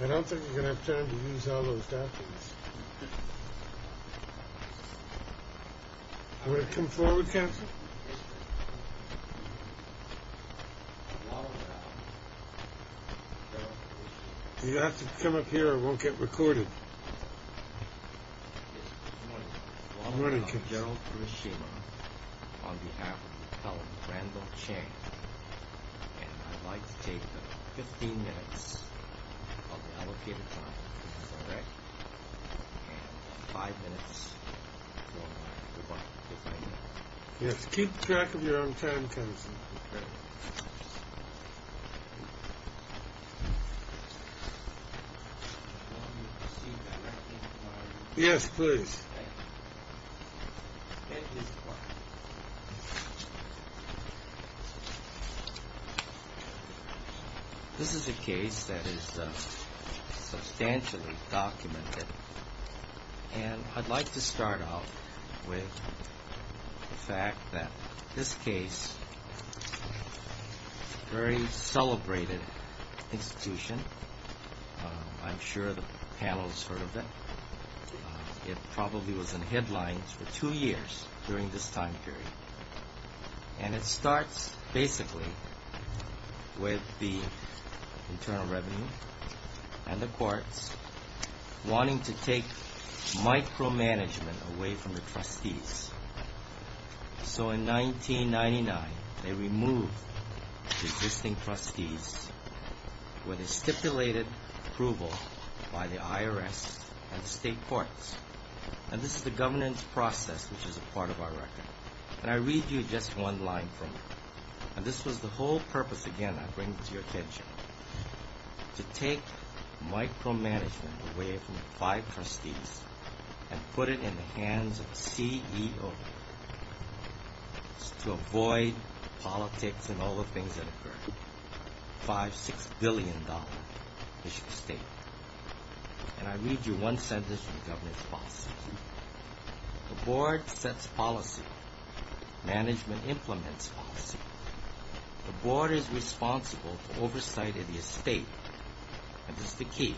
I don't think you're going to have time to use all those documents. You have to come up here or it won't get recorded. I'm running to general on behalf of Randall Chang. And I'd like to take 15 minutes of our time. Five minutes. Yes. Keep track of your own time. Yes, please. This is a case that is substantially documented. And I'd like to start out with the fact that this case is a very celebrated institution. I'm sure the panel has heard of it. It probably was in headlines for two years during this time period. And it starts basically with the Internal Revenue and the courts wanting to take micromanagement away from the trustees. So in 1999, they removed existing trustees with a stipulated approval by the IRS and state courts. And this is the governance process, which is a part of our record. And I read you just one line from it. And this was the whole purpose, again, I bring to your attention. To take micromanagement away from the five trustees and put it in the hands of the CEO. It's to avoid politics and all the things that occur. Five, six billion dollars, Michigan State. And I read you one sentence from the governance process. The board sets policy. Management implements policy. The board is responsible for oversight of the estate. And this is the key.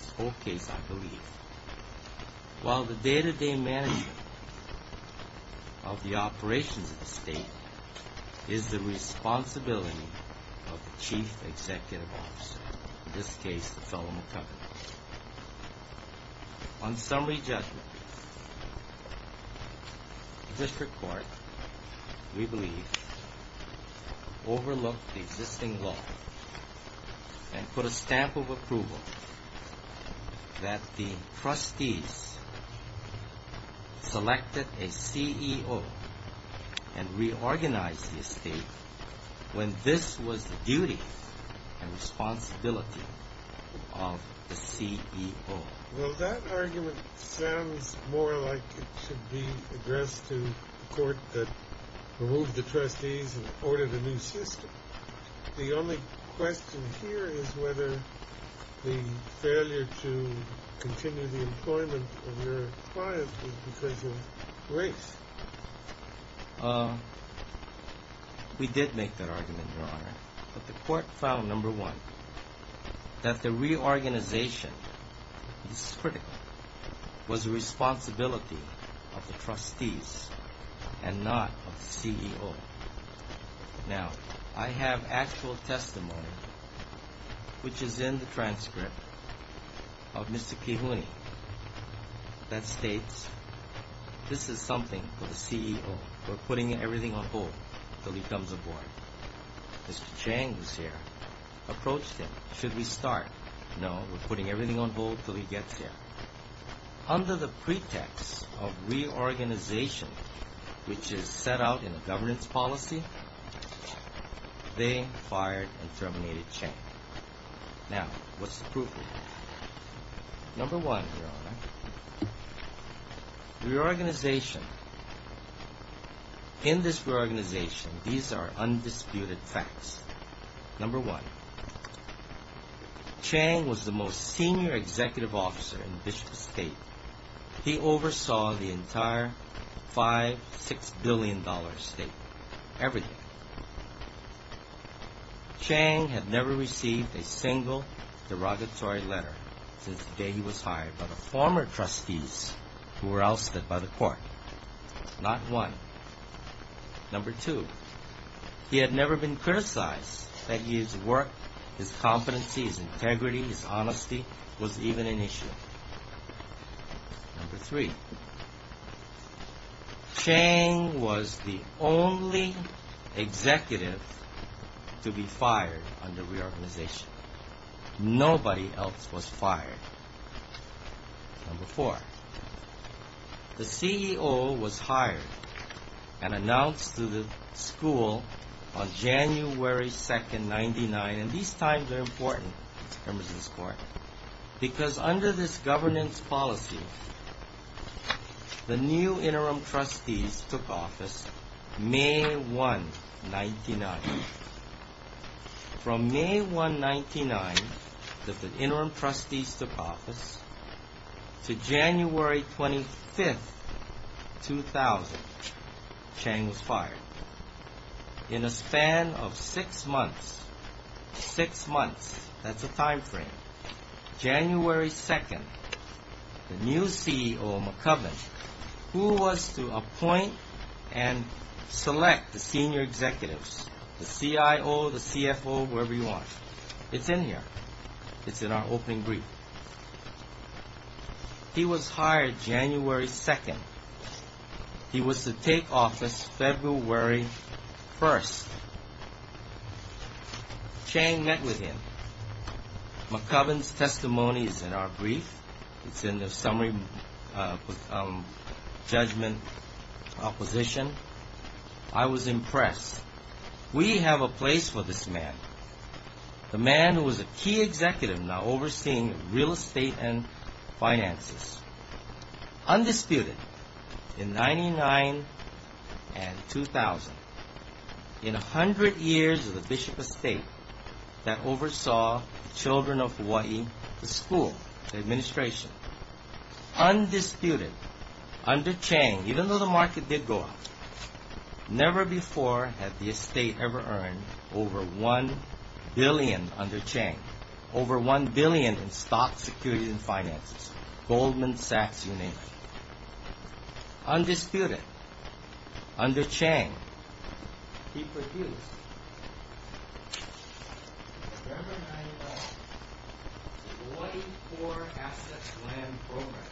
This whole case, I believe. While the day-to-day management of the operations of the state is the responsibility of the chief executive officer. In this case, the fellow McCovern. On summary judgment, the district court, we believe, overlooked the existing law and put a stamp of approval that the trustees selected a CEO and reorganized the estate when this was the duty and responsibility of the CEO. Well, that argument sounds more like it should be addressed to the court that removed the trustees and ordered a new system. The only question here is whether the failure to continue the employment of your clients was because of race. We did make that argument, Your Honor. But the court found, number one, that the reorganization, this is critical, was a responsibility of the trustees and not of the CEO. Now, I have actual testimony, which is in the transcript of Mr. Kihune, that states this is something for the CEO. We're putting everything on hold till he comes aboard. Mr. Chang was here, approached him. Should we start? No, we're putting everything on hold till he gets here. Under the pretext of reorganization, which is set out in the governance policy, they fired and terminated Chang. Now, what's the proof of that? Number one, Your Honor, reorganization, in this reorganization, these are undisputed facts. Number one, Chang was the most senior executive officer in Bishop's estate. He oversaw the entire five, six billion dollar estate, everything. Chang had never received a single derogatory letter since the day he was hired by the former trustees who were ousted by the court. Not one. Number two, he had never been criticized that his work, his competency, his integrity, his honesty was even an issue. Number three, Chang was the only executive to be fired under reorganization. Nobody else was fired. Number four, the CEO was hired and announced to the school on January 2nd, 99, and these times are important, Members of this Court, because under this governance policy, the new interim trustees took office May 1, 99. From May 1, 99, that the interim trustees took office, to January 25, 2000, Chang was fired. In a span of six months, six months, that's a time frame, January 2nd, the new CEO, McCubbin, who was to appoint and select the senior executives, the CIO, the CFO, whoever you want. It's in here. It's in our opening brief. He was hired January 2nd. He was to take office February 1st. Chang met with him. McCubbin's testimony is in our brief. It's in the summary judgment opposition. I was impressed. We have a place for this man, the man who was a key executive now overseeing real estate and finances. Undisputed in 99 and 2000, in a hundred years of the Bishop estate that oversaw the children of Hawaii, the school, the administration, undisputed under Chang, even though the market did go up, never before had the estate ever earned over one billion under Chang, over one billion in stock, securities, and finances, Goldman Sachs, you name it. Undisputed under Chang, he produced a term of 9-1-1, the Hawaii Core Assets Plan Program,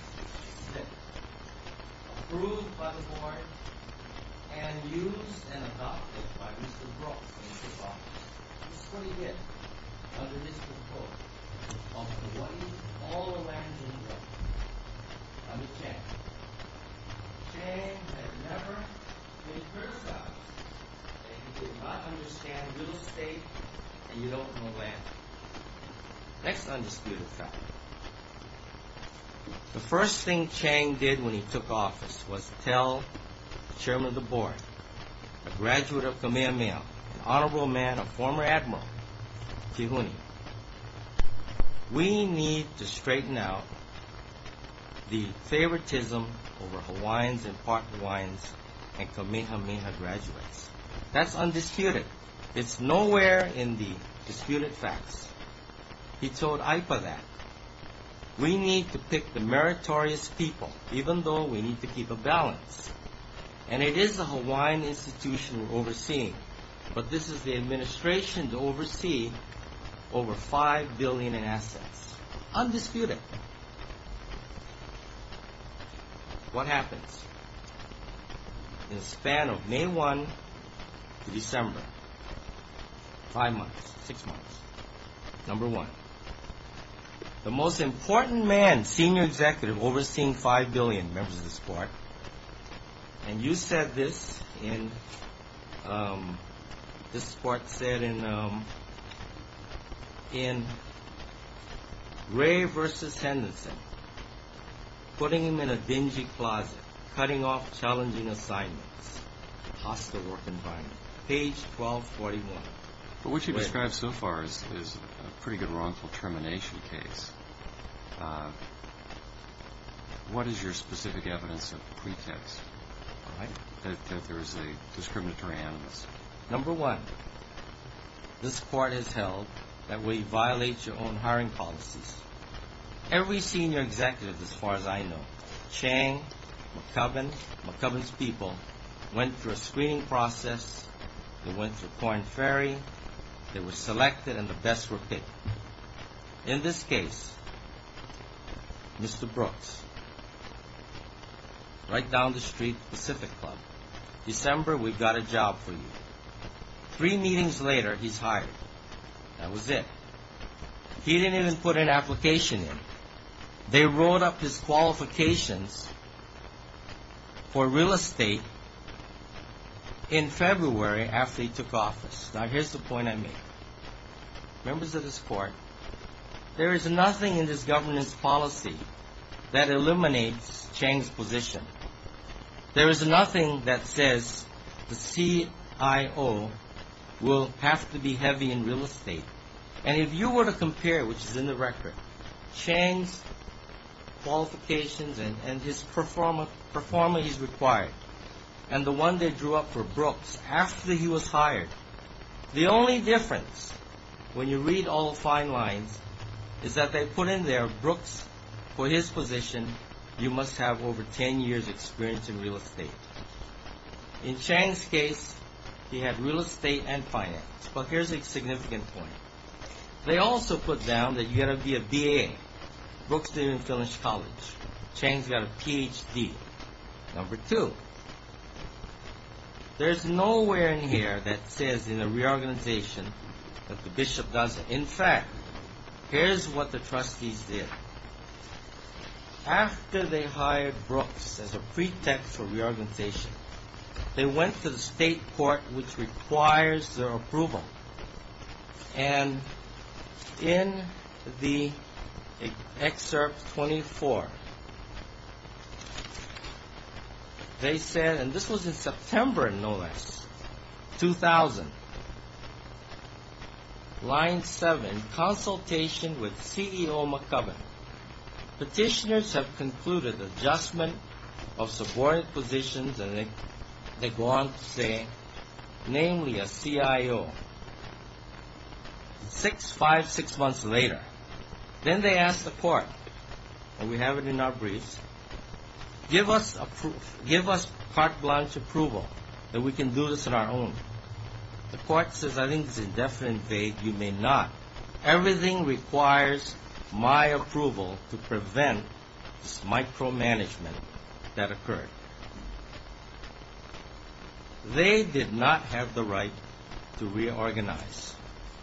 approved by the board, and used and adopted by Mr. Brooks when he took office. This is what he did under Mr. Brooks of Hawaii's all-American government under Chang. Chang had never been criticized that he did not understand real estate and you don't know land. Next undisputed fact. The first thing Chang did when he took office was tell the chairman of the board, a graduate of Kamehameha, an honorable man, a former admiral, Kihuni, we need to straighten out the favoritism over Hawaiians and part Hawaiians and Kamehameha graduates. That's undisputed. It's nowhere in the disputed facts. He told AIPA that. We need to pick the meritorious people, even though we need to keep a balance. And it is a Hawaiian institution we're overseeing, but this is the administration to oversee over five billion in assets. Undisputed. What happens? In the span of May 1 to December, five months, six months, number one, the most important man, senior executive, overseeing five billion, members of the SPARC, and you said this in, this SPARC said in Ray versus Henderson, putting him in a dingy closet, cutting off challenging assignments, hostile work environment. Page 1241. But what you described so far is a pretty good wrongful termination case. What is your specific evidence of the pretext that there is a discriminatory animus? Number one, this court has held that we violate your own hiring policies. Every senior executive, as far as I know, Chang, McCubbin, McCubbin's people, went through a screening process, they went through coin ferry, they were selected, and the best were picked. In this case, Mr. Brooks, right down the street, Pacific Club. December, we've got a job for you. Three meetings later, he's hired. That was it. He didn't even put an application in. They wrote up his qualifications for real estate in February after he took office. Now, here's the point I made. Members of this court, there is nothing in this governance policy that eliminates Chang's position. There is nothing that says the CIO will have to be heavy in real estate. And if you were to compare, which is in the record, Chang's qualifications and his performance required, and the one they drew up for Brooks after he was hired, the only difference, when you read all the fine lines, is that they put in there, Brooks, for his position, you must have over ten years' experience in real estate. In Chang's case, he had real estate and finance. But here's a significant point. They also put down that you've got to be a BA. Brooks didn't even finish college. Chang's got a PhD. Number two, there's nowhere in here that says in the reorganization that the bishop doesn't. In fact, here's what the trustees did. After they hired Brooks as a pretext for reorganization, they went to the state court, which requires their approval. And in the excerpt 24, they said, and this was in September, no less, 2000, line seven, consultation with CEO McCubbin. Petitioners have concluded adjustment of subordinate positions, and they go on to say, namely a CIO, six, five, six months later. Then they ask the court, and we have it in our briefs, give us carte blanche approval that we can do this on our own. The court says, I think this is definitely vague. You may not. Everything requires my approval to prevent this micromanagement that occurred. They did not have the right to reorganize.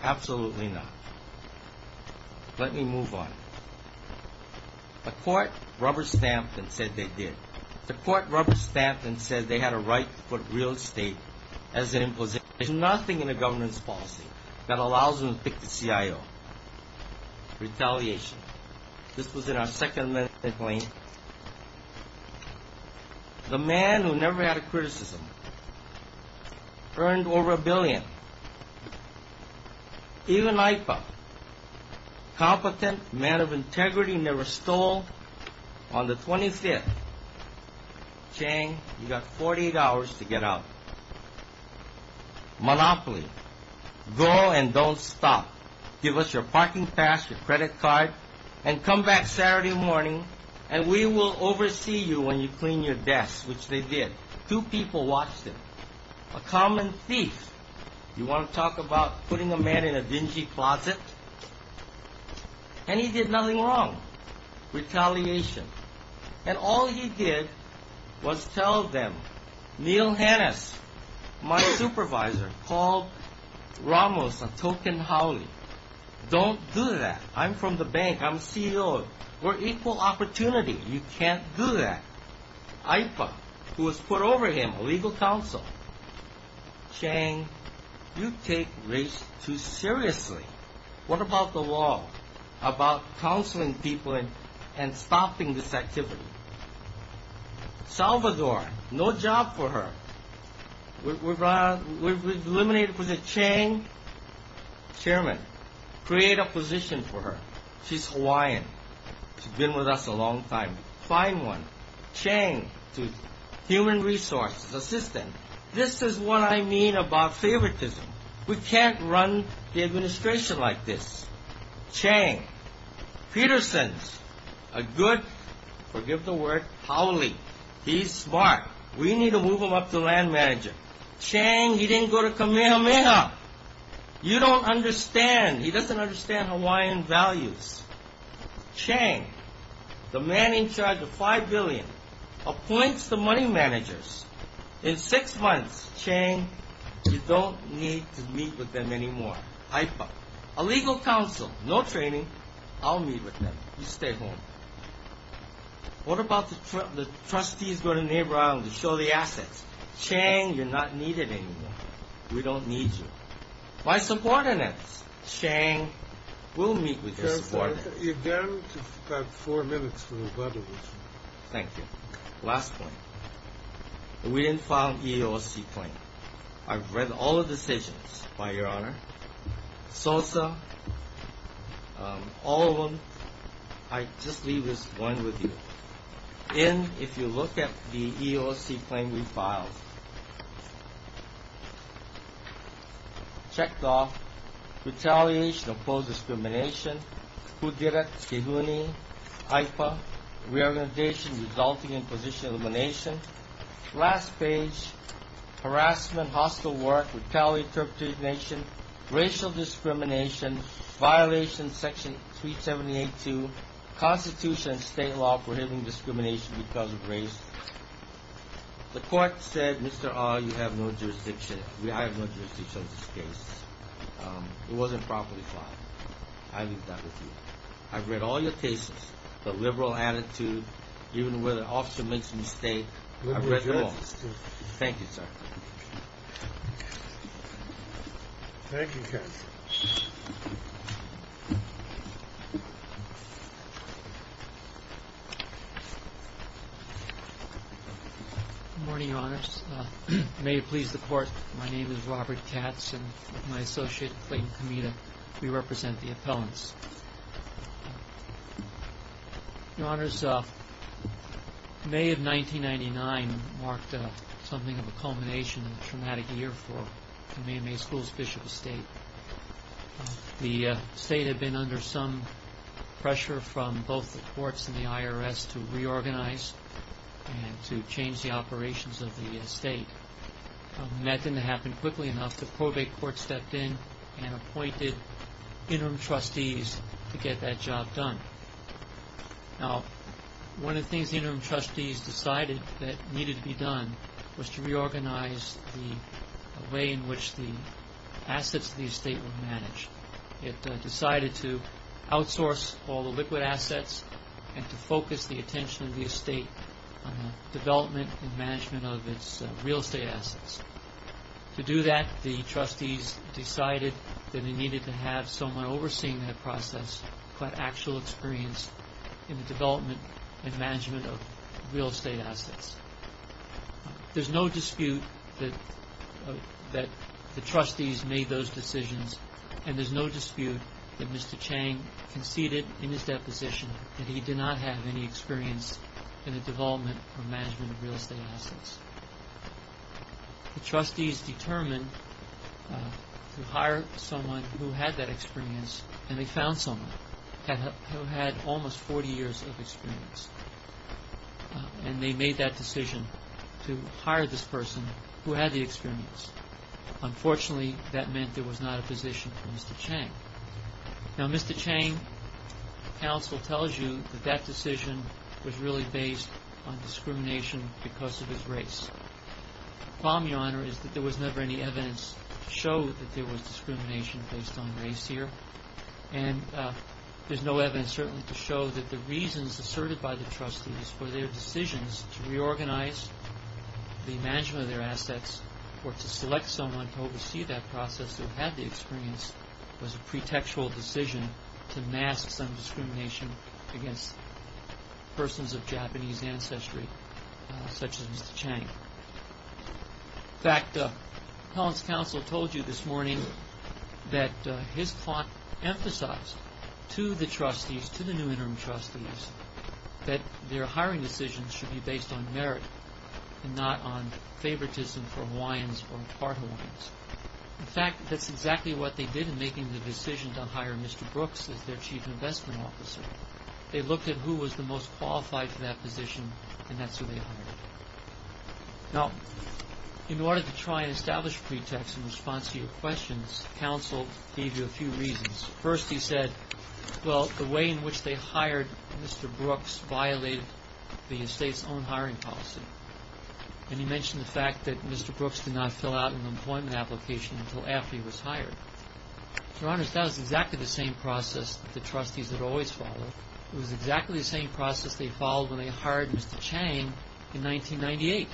Absolutely not. Let me move on. The court rubber-stamped and said they did. The court rubber-stamped and said they had a right to put real estate as an imposition. There's nothing in a governance policy that allows them to pick the CIO. Retaliation. This was in our second amendment claim. The man who never had a criticism earned over a billion. Even IPA. Competent man of integrity never stole on the 25th. Chang, you got 48 hours to get out. Monopoly. Go and don't stop. Give us your parking pass, your credit card, and come back Saturday morning, and we will oversee you when you clean your desk, which they did. Two people watched him. A common thief. You want to talk about putting a man in a dingy closet? And he did nothing wrong. Retaliation. And all he did was tell them, Neil Hannes, my supervisor, called Ramos a token Howley. Don't do that. I'm from the bank. I'm CEO. We're equal opportunity. You can't do that. IPA, who was put over him, a legal counsel. Chang, you take race too seriously. What about the law about counseling people and stopping this activity? Salvador, no job for her. We've eliminated President Chang. Chairman, create a position for her. She's Hawaiian. She's been with us a long time. Find one. Chang, human resources assistant. This is what I mean about favoritism. We can't run the administration like this. Chang, Peterson's a good, forgive the word, Howley. He's smart. We need to move him up to land manager. Chang, he didn't go to Kamehameha. You don't understand. He doesn't understand Hawaiian values. Chang, the man in charge of five billion, appoints the money managers. In six months, Chang, you don't need to meet with them anymore. IPA, a legal counsel. No training. I'll meet with them. You stay home. What about the trustees go to neighbor island to show the assets? Chang, you're not needed anymore. We don't need you. My supporter next. Chang, we'll meet with your supporter. Chairman, you've got four minutes for rebuttal. Thank you. Last point. We didn't file an EEOC claim. I've read all the decisions, by your honor. SOSA, all of them. I just leave this one with you. In, if you look at the EEOC claim we filed. Checked off. Retaliation, opposed discrimination. Who did it? IPA, reorganization resulting in position elimination. Last page, harassment, hostile work, retaliation, racial discrimination, violation section 378-2, constitution and state law prohibiting discrimination because of race. The court said, Mr. R, you have no jurisdiction. I have no jurisdiction on this case. It wasn't properly filed. I leave that with you. I've read all your cases. The liberal attitude, even where the officer makes a mistake. I've read them all. Thank you, sir. Thank you, counsel. Good morning, your honors. May it please the court, my name is Robert Katz and with my associate Clayton Kamita, we represent the appellants. Your honors, May of 1999 marked something of a culmination of a traumatic year for the Maine Bay School's Bishop Estate. The state had been under some pressure from both the courts and the IRS to reorganize and to change the operations of the estate. That didn't happen quickly enough. The probate court stepped in and appointed interim trustees to get that job done. Now, one of the things the interim trustees decided that needed to be done was to reorganize the way in which the assets of the estate were managed. It decided to outsource all the liquid assets and to focus the attention of the estate on the development and management of its real estate assets. To do that, the trustees decided that they needed to have someone overseeing that process, but actual experience in the development and management of real estate assets. There's no dispute that the trustees made those decisions, and there's no dispute that Mr. Chang conceded in his deposition that he did not have any experience in the development or management of real estate assets. The trustees determined to hire someone who had that experience, and they found someone who had almost 40 years of experience. They made that decision to hire this person who had the experience. Unfortunately, that meant there was not a position for Mr. Chang. Now, Mr. Chang, counsel tells you that that decision was really based on discrimination because of his race. The problem, Your Honor, is that there was never any evidence to show that there was discrimination based on race here, and there's no evidence, certainly, to show that the reasons asserted by the trustees for their decisions to reorganize the management of their assets or to select someone to oversee that process who had the experience was a pretextual decision to mask some discrimination against persons of Japanese ancestry, such as Mr. Chang. In fact, Helen's counsel told you this morning that his client emphasized to the trustees, to the new interim trustees, that their hiring decisions should be based on merit and not on favoritism for Hawaiians or part Hawaiians. In fact, that's exactly what they did in making the decision to hire Mr. Brooks as their chief investment officer. They looked at who was the most qualified for that position, and that's who they hired. Now, in order to try and establish pretext in response to your questions, counsel gave you a few reasons. First, he said, well, the way in which they hired Mr. Brooks violated the estate's own hiring policy. And he mentioned the fact that Mr. Brooks did not fill out an employment application until after he was hired. Your Honors, that was exactly the same process that the trustees had always followed. It was exactly the same process they followed when they hired Mr. Chang in 1998.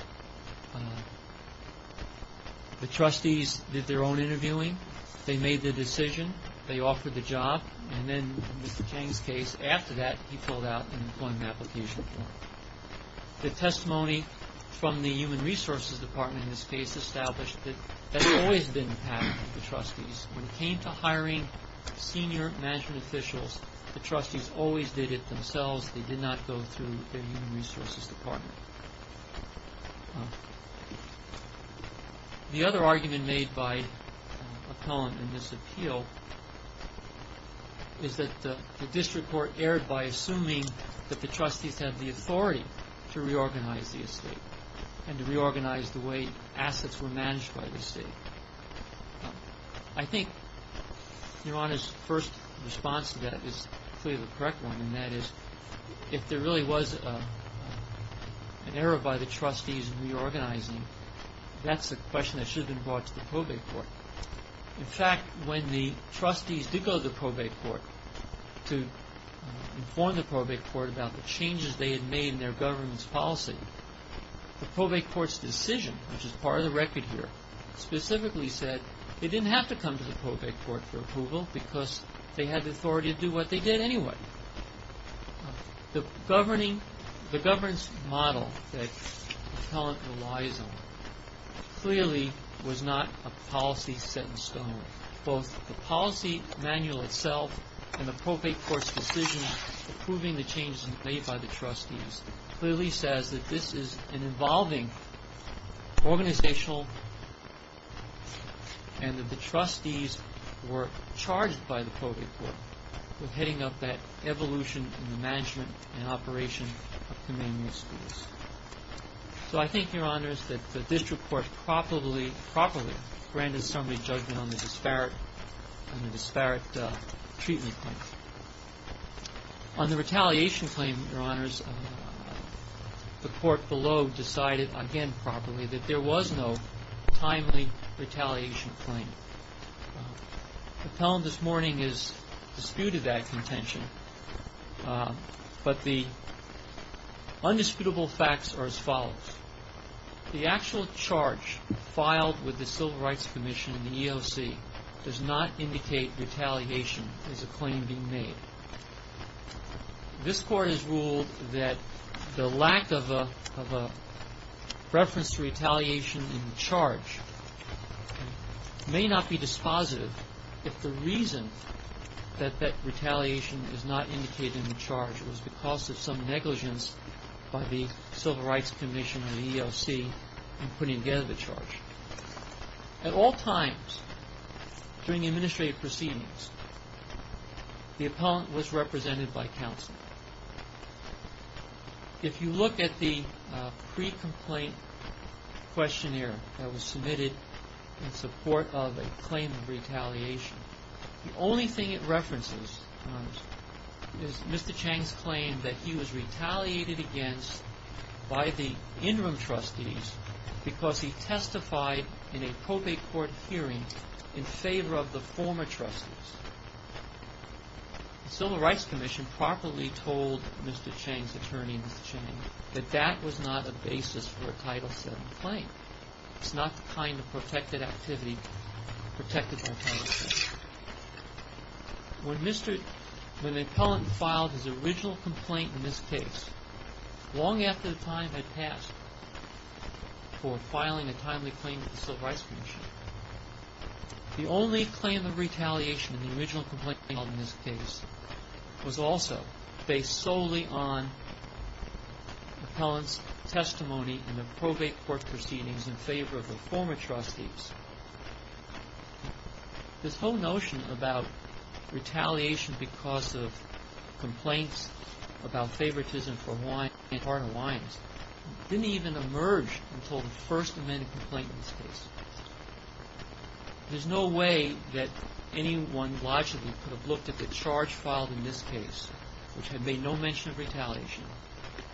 The trustees did their own interviewing. They made the decision. They offered the job. And then in Mr. Chang's case, after that, he filled out an employment application. The testimony from the Human Resources Department in this case established that that had always been the path of the trustees. When it came to hiring senior management officials, the trustees always did it themselves. They did not go through the Human Resources Department. The other argument made by McClellan in this appeal is that the district court erred by assuming that the trustees had the authority to reorganize the estate and to reorganize the way assets were managed by the estate. I think Your Honors' first response to that is clearly the correct one, and that is if there really was an error by the trustees in reorganizing, that's a question that should have been brought to the probate court. In fact, when the trustees did go to the probate court to inform the probate court about the changes they had made in their government's policy, the probate court's decision, which is part of the record here, specifically said they didn't have to come to the probate court for approval because they had the authority to do what they did anyway. The governance model that McClellan relies on clearly was not a policy set in stone. Both the policy manual itself and the probate court's decision approving the changes made by the trustees clearly says that this is an involving organizational and that the trustees were charged by the probate court with heading up that evolution in the management and operation of commandment schools. So I think, Your Honors, that the district court probably properly granted somebody judgment on the disparate treatment claims. On the retaliation claim, Your Honors, the court below decided again properly that there was no timely retaliation claim. McClellan this morning has disputed that contention, but the undisputable facts are as follows. The actual charge filed with the Civil Rights Commission and the EOC does not indicate retaliation as a claim being made. This court has ruled that the lack of a reference to retaliation in the charge may not be dispositive if the reason that that retaliation is not indicated in the charge was because of some negligence by the Civil Rights Commission and the EOC in putting together the charge. At all times during the administrative proceedings, the appellant was represented by counsel. If you look at the pre-complaint questionnaire that was submitted in support of a claim of retaliation, the only thing it references is Mr. Chang's claim that he was retaliated against by the interim trustees because he testified in a probate court hearing in favor of the former trustees. The Civil Rights Commission properly told Mr. Chang's attorney, Mr. Chang, that that was not a basis for a Title VII claim. It's not the kind of protected activity protected by a Title VII claim. When the appellant filed his original complaint in this case long after the time had passed for filing a timely claim with the Civil Rights Commission, the only claim of retaliation in the original complaint filed in this case was also based solely on in favor of the former trustees. This whole notion about retaliation because of complaints about favoritism for Hawaiians didn't even emerge until the First Amendment complaint in this case. There's no way that anyone logically could have looked at the charge filed in this case, which had made no mention of retaliation,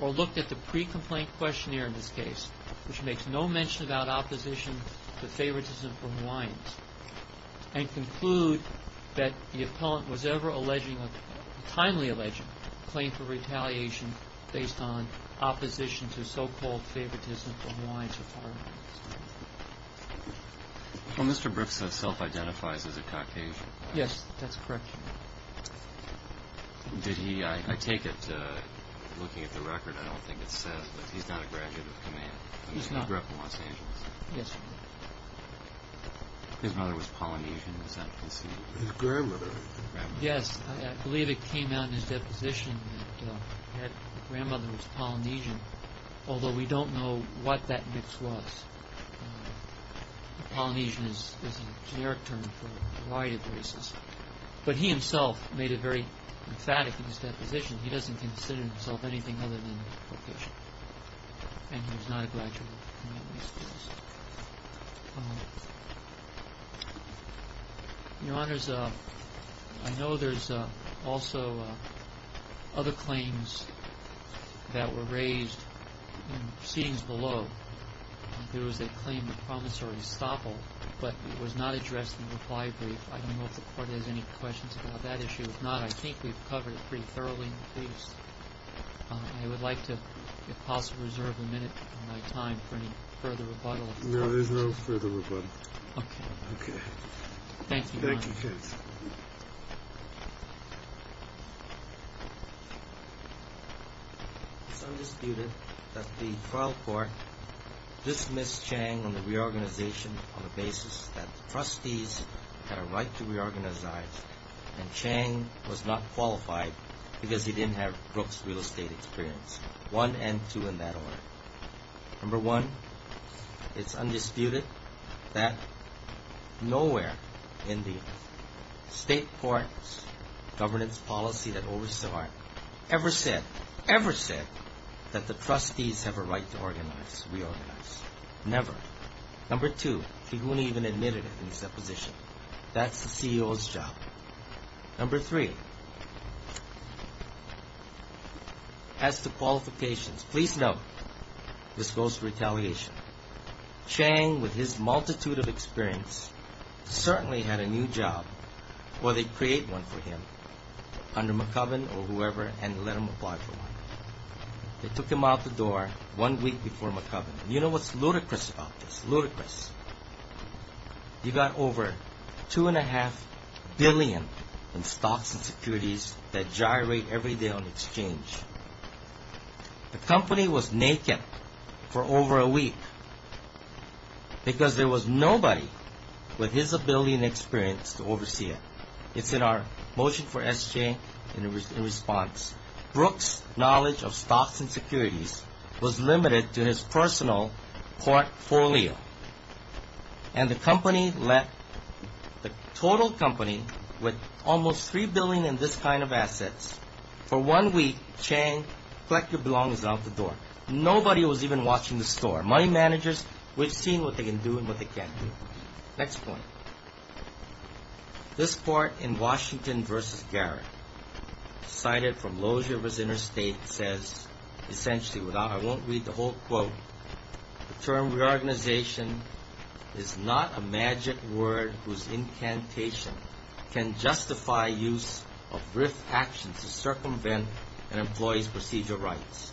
or looked at the pre-complaint questionnaire in this case, which makes no mention about opposition to favoritism for Hawaiians, and conclude that the appellant was ever alleging a timely alleging claim for retaliation based on opposition to so-called favoritism for Hawaiians. Well, Mr. Brooks self-identifies as a Caucasian. Yes, that's correct. I take it, looking at the record, I don't think it says that he's not a graduate of command. He's not. He grew up in Los Angeles. His mother was Polynesian. Is that conceivable? His grandmother. Yes, I believe it came out in his deposition that his grandmother was Polynesian, although we don't know what that mix was. Polynesian is a generic term for a variety of races, but he himself made it very emphatic in his deposition. He doesn't consider himself anything other than Caucasian, and he was not a graduate of command in these cases. Your Honors, I know there's also other claims that were raised in proceedings below and there was a claim of promissory estoppel, but it was not addressed in the reply brief. I don't know if the Court has any questions about that issue. If not, I think we've covered it pretty thoroughly in the briefs. I would like to, if possible, reserve a minute of my time for any further rebuttal. No, there's no further rebuttal. Okay. Okay. Thank you, Your Honors. Thank you, Judge. Thank you. It's undisputed that the trial court dismissed Chang on the reorganization on the basis that the trustees had a right to reorganize and Chang was not qualified because he didn't have Brooke's real estate experience. One and two in that order. Number one, it's undisputed that nowhere in the state court's governance policy that oversaw it ever said, ever said that the trustees have a right to organize, reorganize. Never. Number two, he wouldn't even admit it in his deposition. That's the CEO's job. Number three, as to qualifications, please note this goes to retaliation. Chang, with his multitude of experience, certainly had a new job or they'd create one for him under McCubbin or whoever and let him apply for one. They took him out the door one week before McCubbin. You know what's ludicrous about this? Ludicrous. You got over two and a half billion in stocks and securities that gyrate every day on exchange. The company was naked for over a week because there was nobody with his ability and experience to oversee it. It's in our motion for SJ in response. Brooks' knowledge of stocks and securities was limited to his personal portfolio, and the company let the total company with almost three billion in this kind of assets for one week, Chang, collect your belongings out the door. Nobody was even watching the store. Money managers, we've seen what they can do and what they can't do. Next point. This part in Washington v. Garrett, cited from Lozier v. Interstate, says, essentially, I won't read the whole quote, the term reorganization is not a magic word whose incantation can justify use of brief actions to circumvent an employee's procedural rights.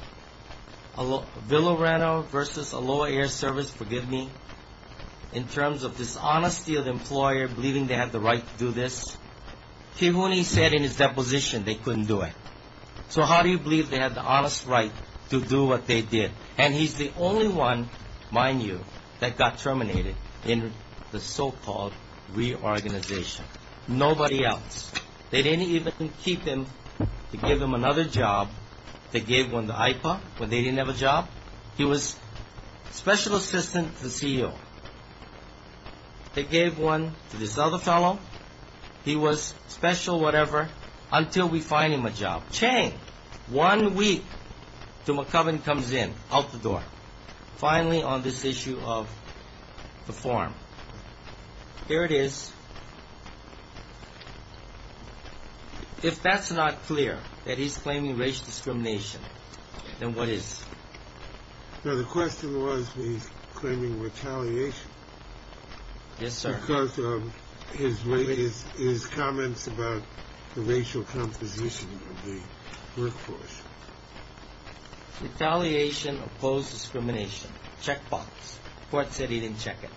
Villareno v. Aloa Air Service, forgive me, in terms of dishonesty of the employer believing they had the right to do this, he only said in his deposition they couldn't do it. So how do you believe they had the honest right to do what they did? And he's the only one, mind you, that got terminated in the so-called reorganization. Nobody else. They didn't even keep him to give him another job. They gave one to IPA when they didn't have a job. He was special assistant to the CEO. They gave one to this other fellow. He was special whatever until we find him a job. Chang, one week till McCubbin comes in, out the door, finally on this issue of the form. Here it is. If that's not clear that he's claiming racial discrimination, then what is? No, the question was he's claiming retaliation. Yes, sir. Because of his comments about the racial composition of the workforce. Retaliation opposed discrimination. Checkbox. Court said he didn't check it.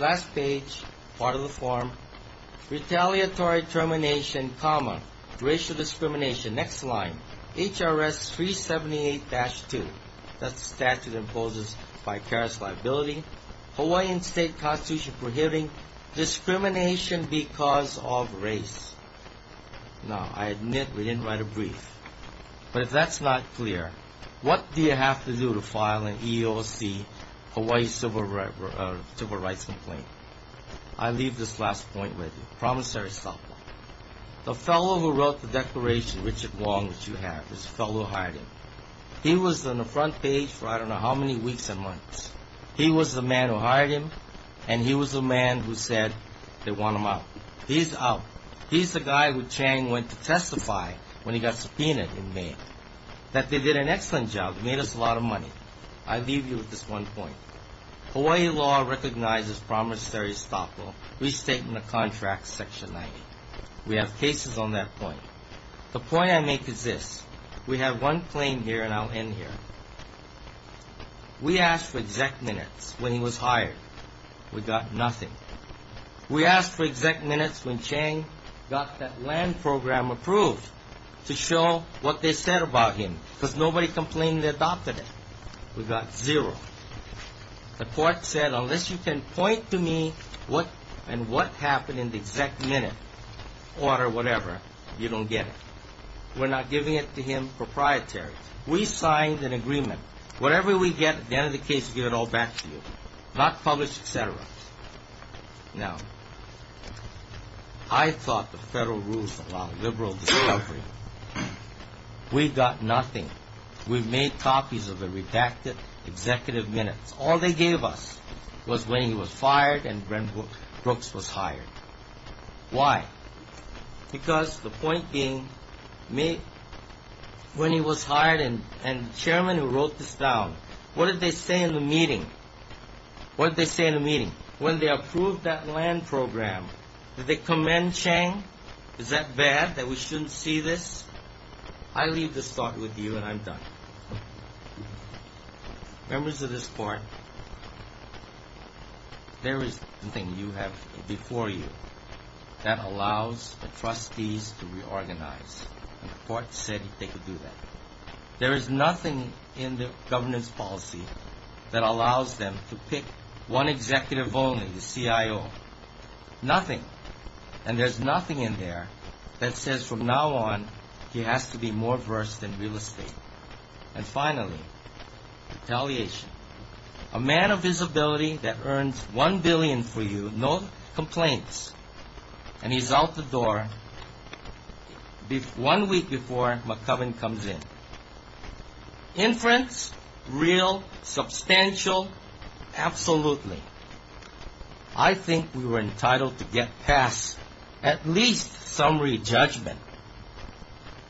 Last page, part of the form. Retaliatory termination, racial discrimination. Next line. HRS 378-2. That statute imposes vicarious liability. Hawaiian state constitution prohibiting discrimination because of race. Now, I admit we didn't write a brief. But if that's not clear, what do you have to do to file an EEOC Hawaii civil rights complaint? I leave this last point with you. Promissory stuff. The fellow who wrote the declaration, Richard Wong, which you have, this fellow hired him, he was on the front page for I don't know how many weeks and months. He was the man who hired him, and he was the man who said they want him out. He's out. He's the guy who Chang went to testify when he got subpoenaed in Maine. That they did an excellent job, made us a lot of money. I leave you with this one point. Hawaii law recognizes promissory stuff. Restate in the contract section 90. We have cases on that point. The point I make is this. We have one claim here, and I'll end here. We asked for exact minutes when he was hired. We got nothing. We asked for exact minutes when Chang got that land program approved to show what they said about him because nobody complained they adopted it. We got zero. The court said, unless you can point to me what and what happened in the exact minute, order whatever, you don't get it. We're not giving it to him proprietary. We signed an agreement. Whatever we get, at the end of the case, we give it all back to you. Not published, et cetera. Now, I thought the federal rules allowed liberal discovery. We got nothing. We made copies of the redacted executive minutes. All they gave us was when he was fired and when Brooks was hired. Why? Because the point being, when he was hired and the chairman who wrote this down, what did they say in the meeting? What did they say in the meeting? When they approved that land program, did they commend Chang? Is that bad that we shouldn't see this? I leave this thought with you, and I'm done. Members of this court, there is something you have before you that allows the trustees to reorganize. The court said they could do that. There is nothing in the governance policy that allows them to pick one executive only, the CIO. Nothing. And there's nothing in there that says from now on he has to be more versed in real estate. And finally, retaliation. A man of his ability that earns $1 billion for you, no complaints, and he's out the door one week before McCubbin comes in. Inference, real, substantial, absolutely. I think we were entitled to get past at least summary judgment.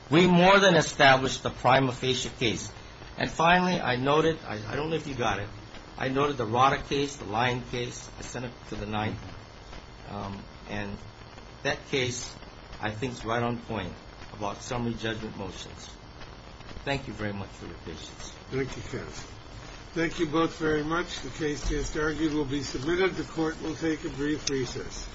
We more than established the prima facie case. And finally, I noted, I don't know if you got it, I noted the Rotter case, the Lyon case, the Senate to the 9th, and that case I think is right on point about summary judgment motions. Thank you very much for your patience. Thank you, Kenneth. Thank you both very much. The case, it's argued, will be submitted. The court will take a brief recess.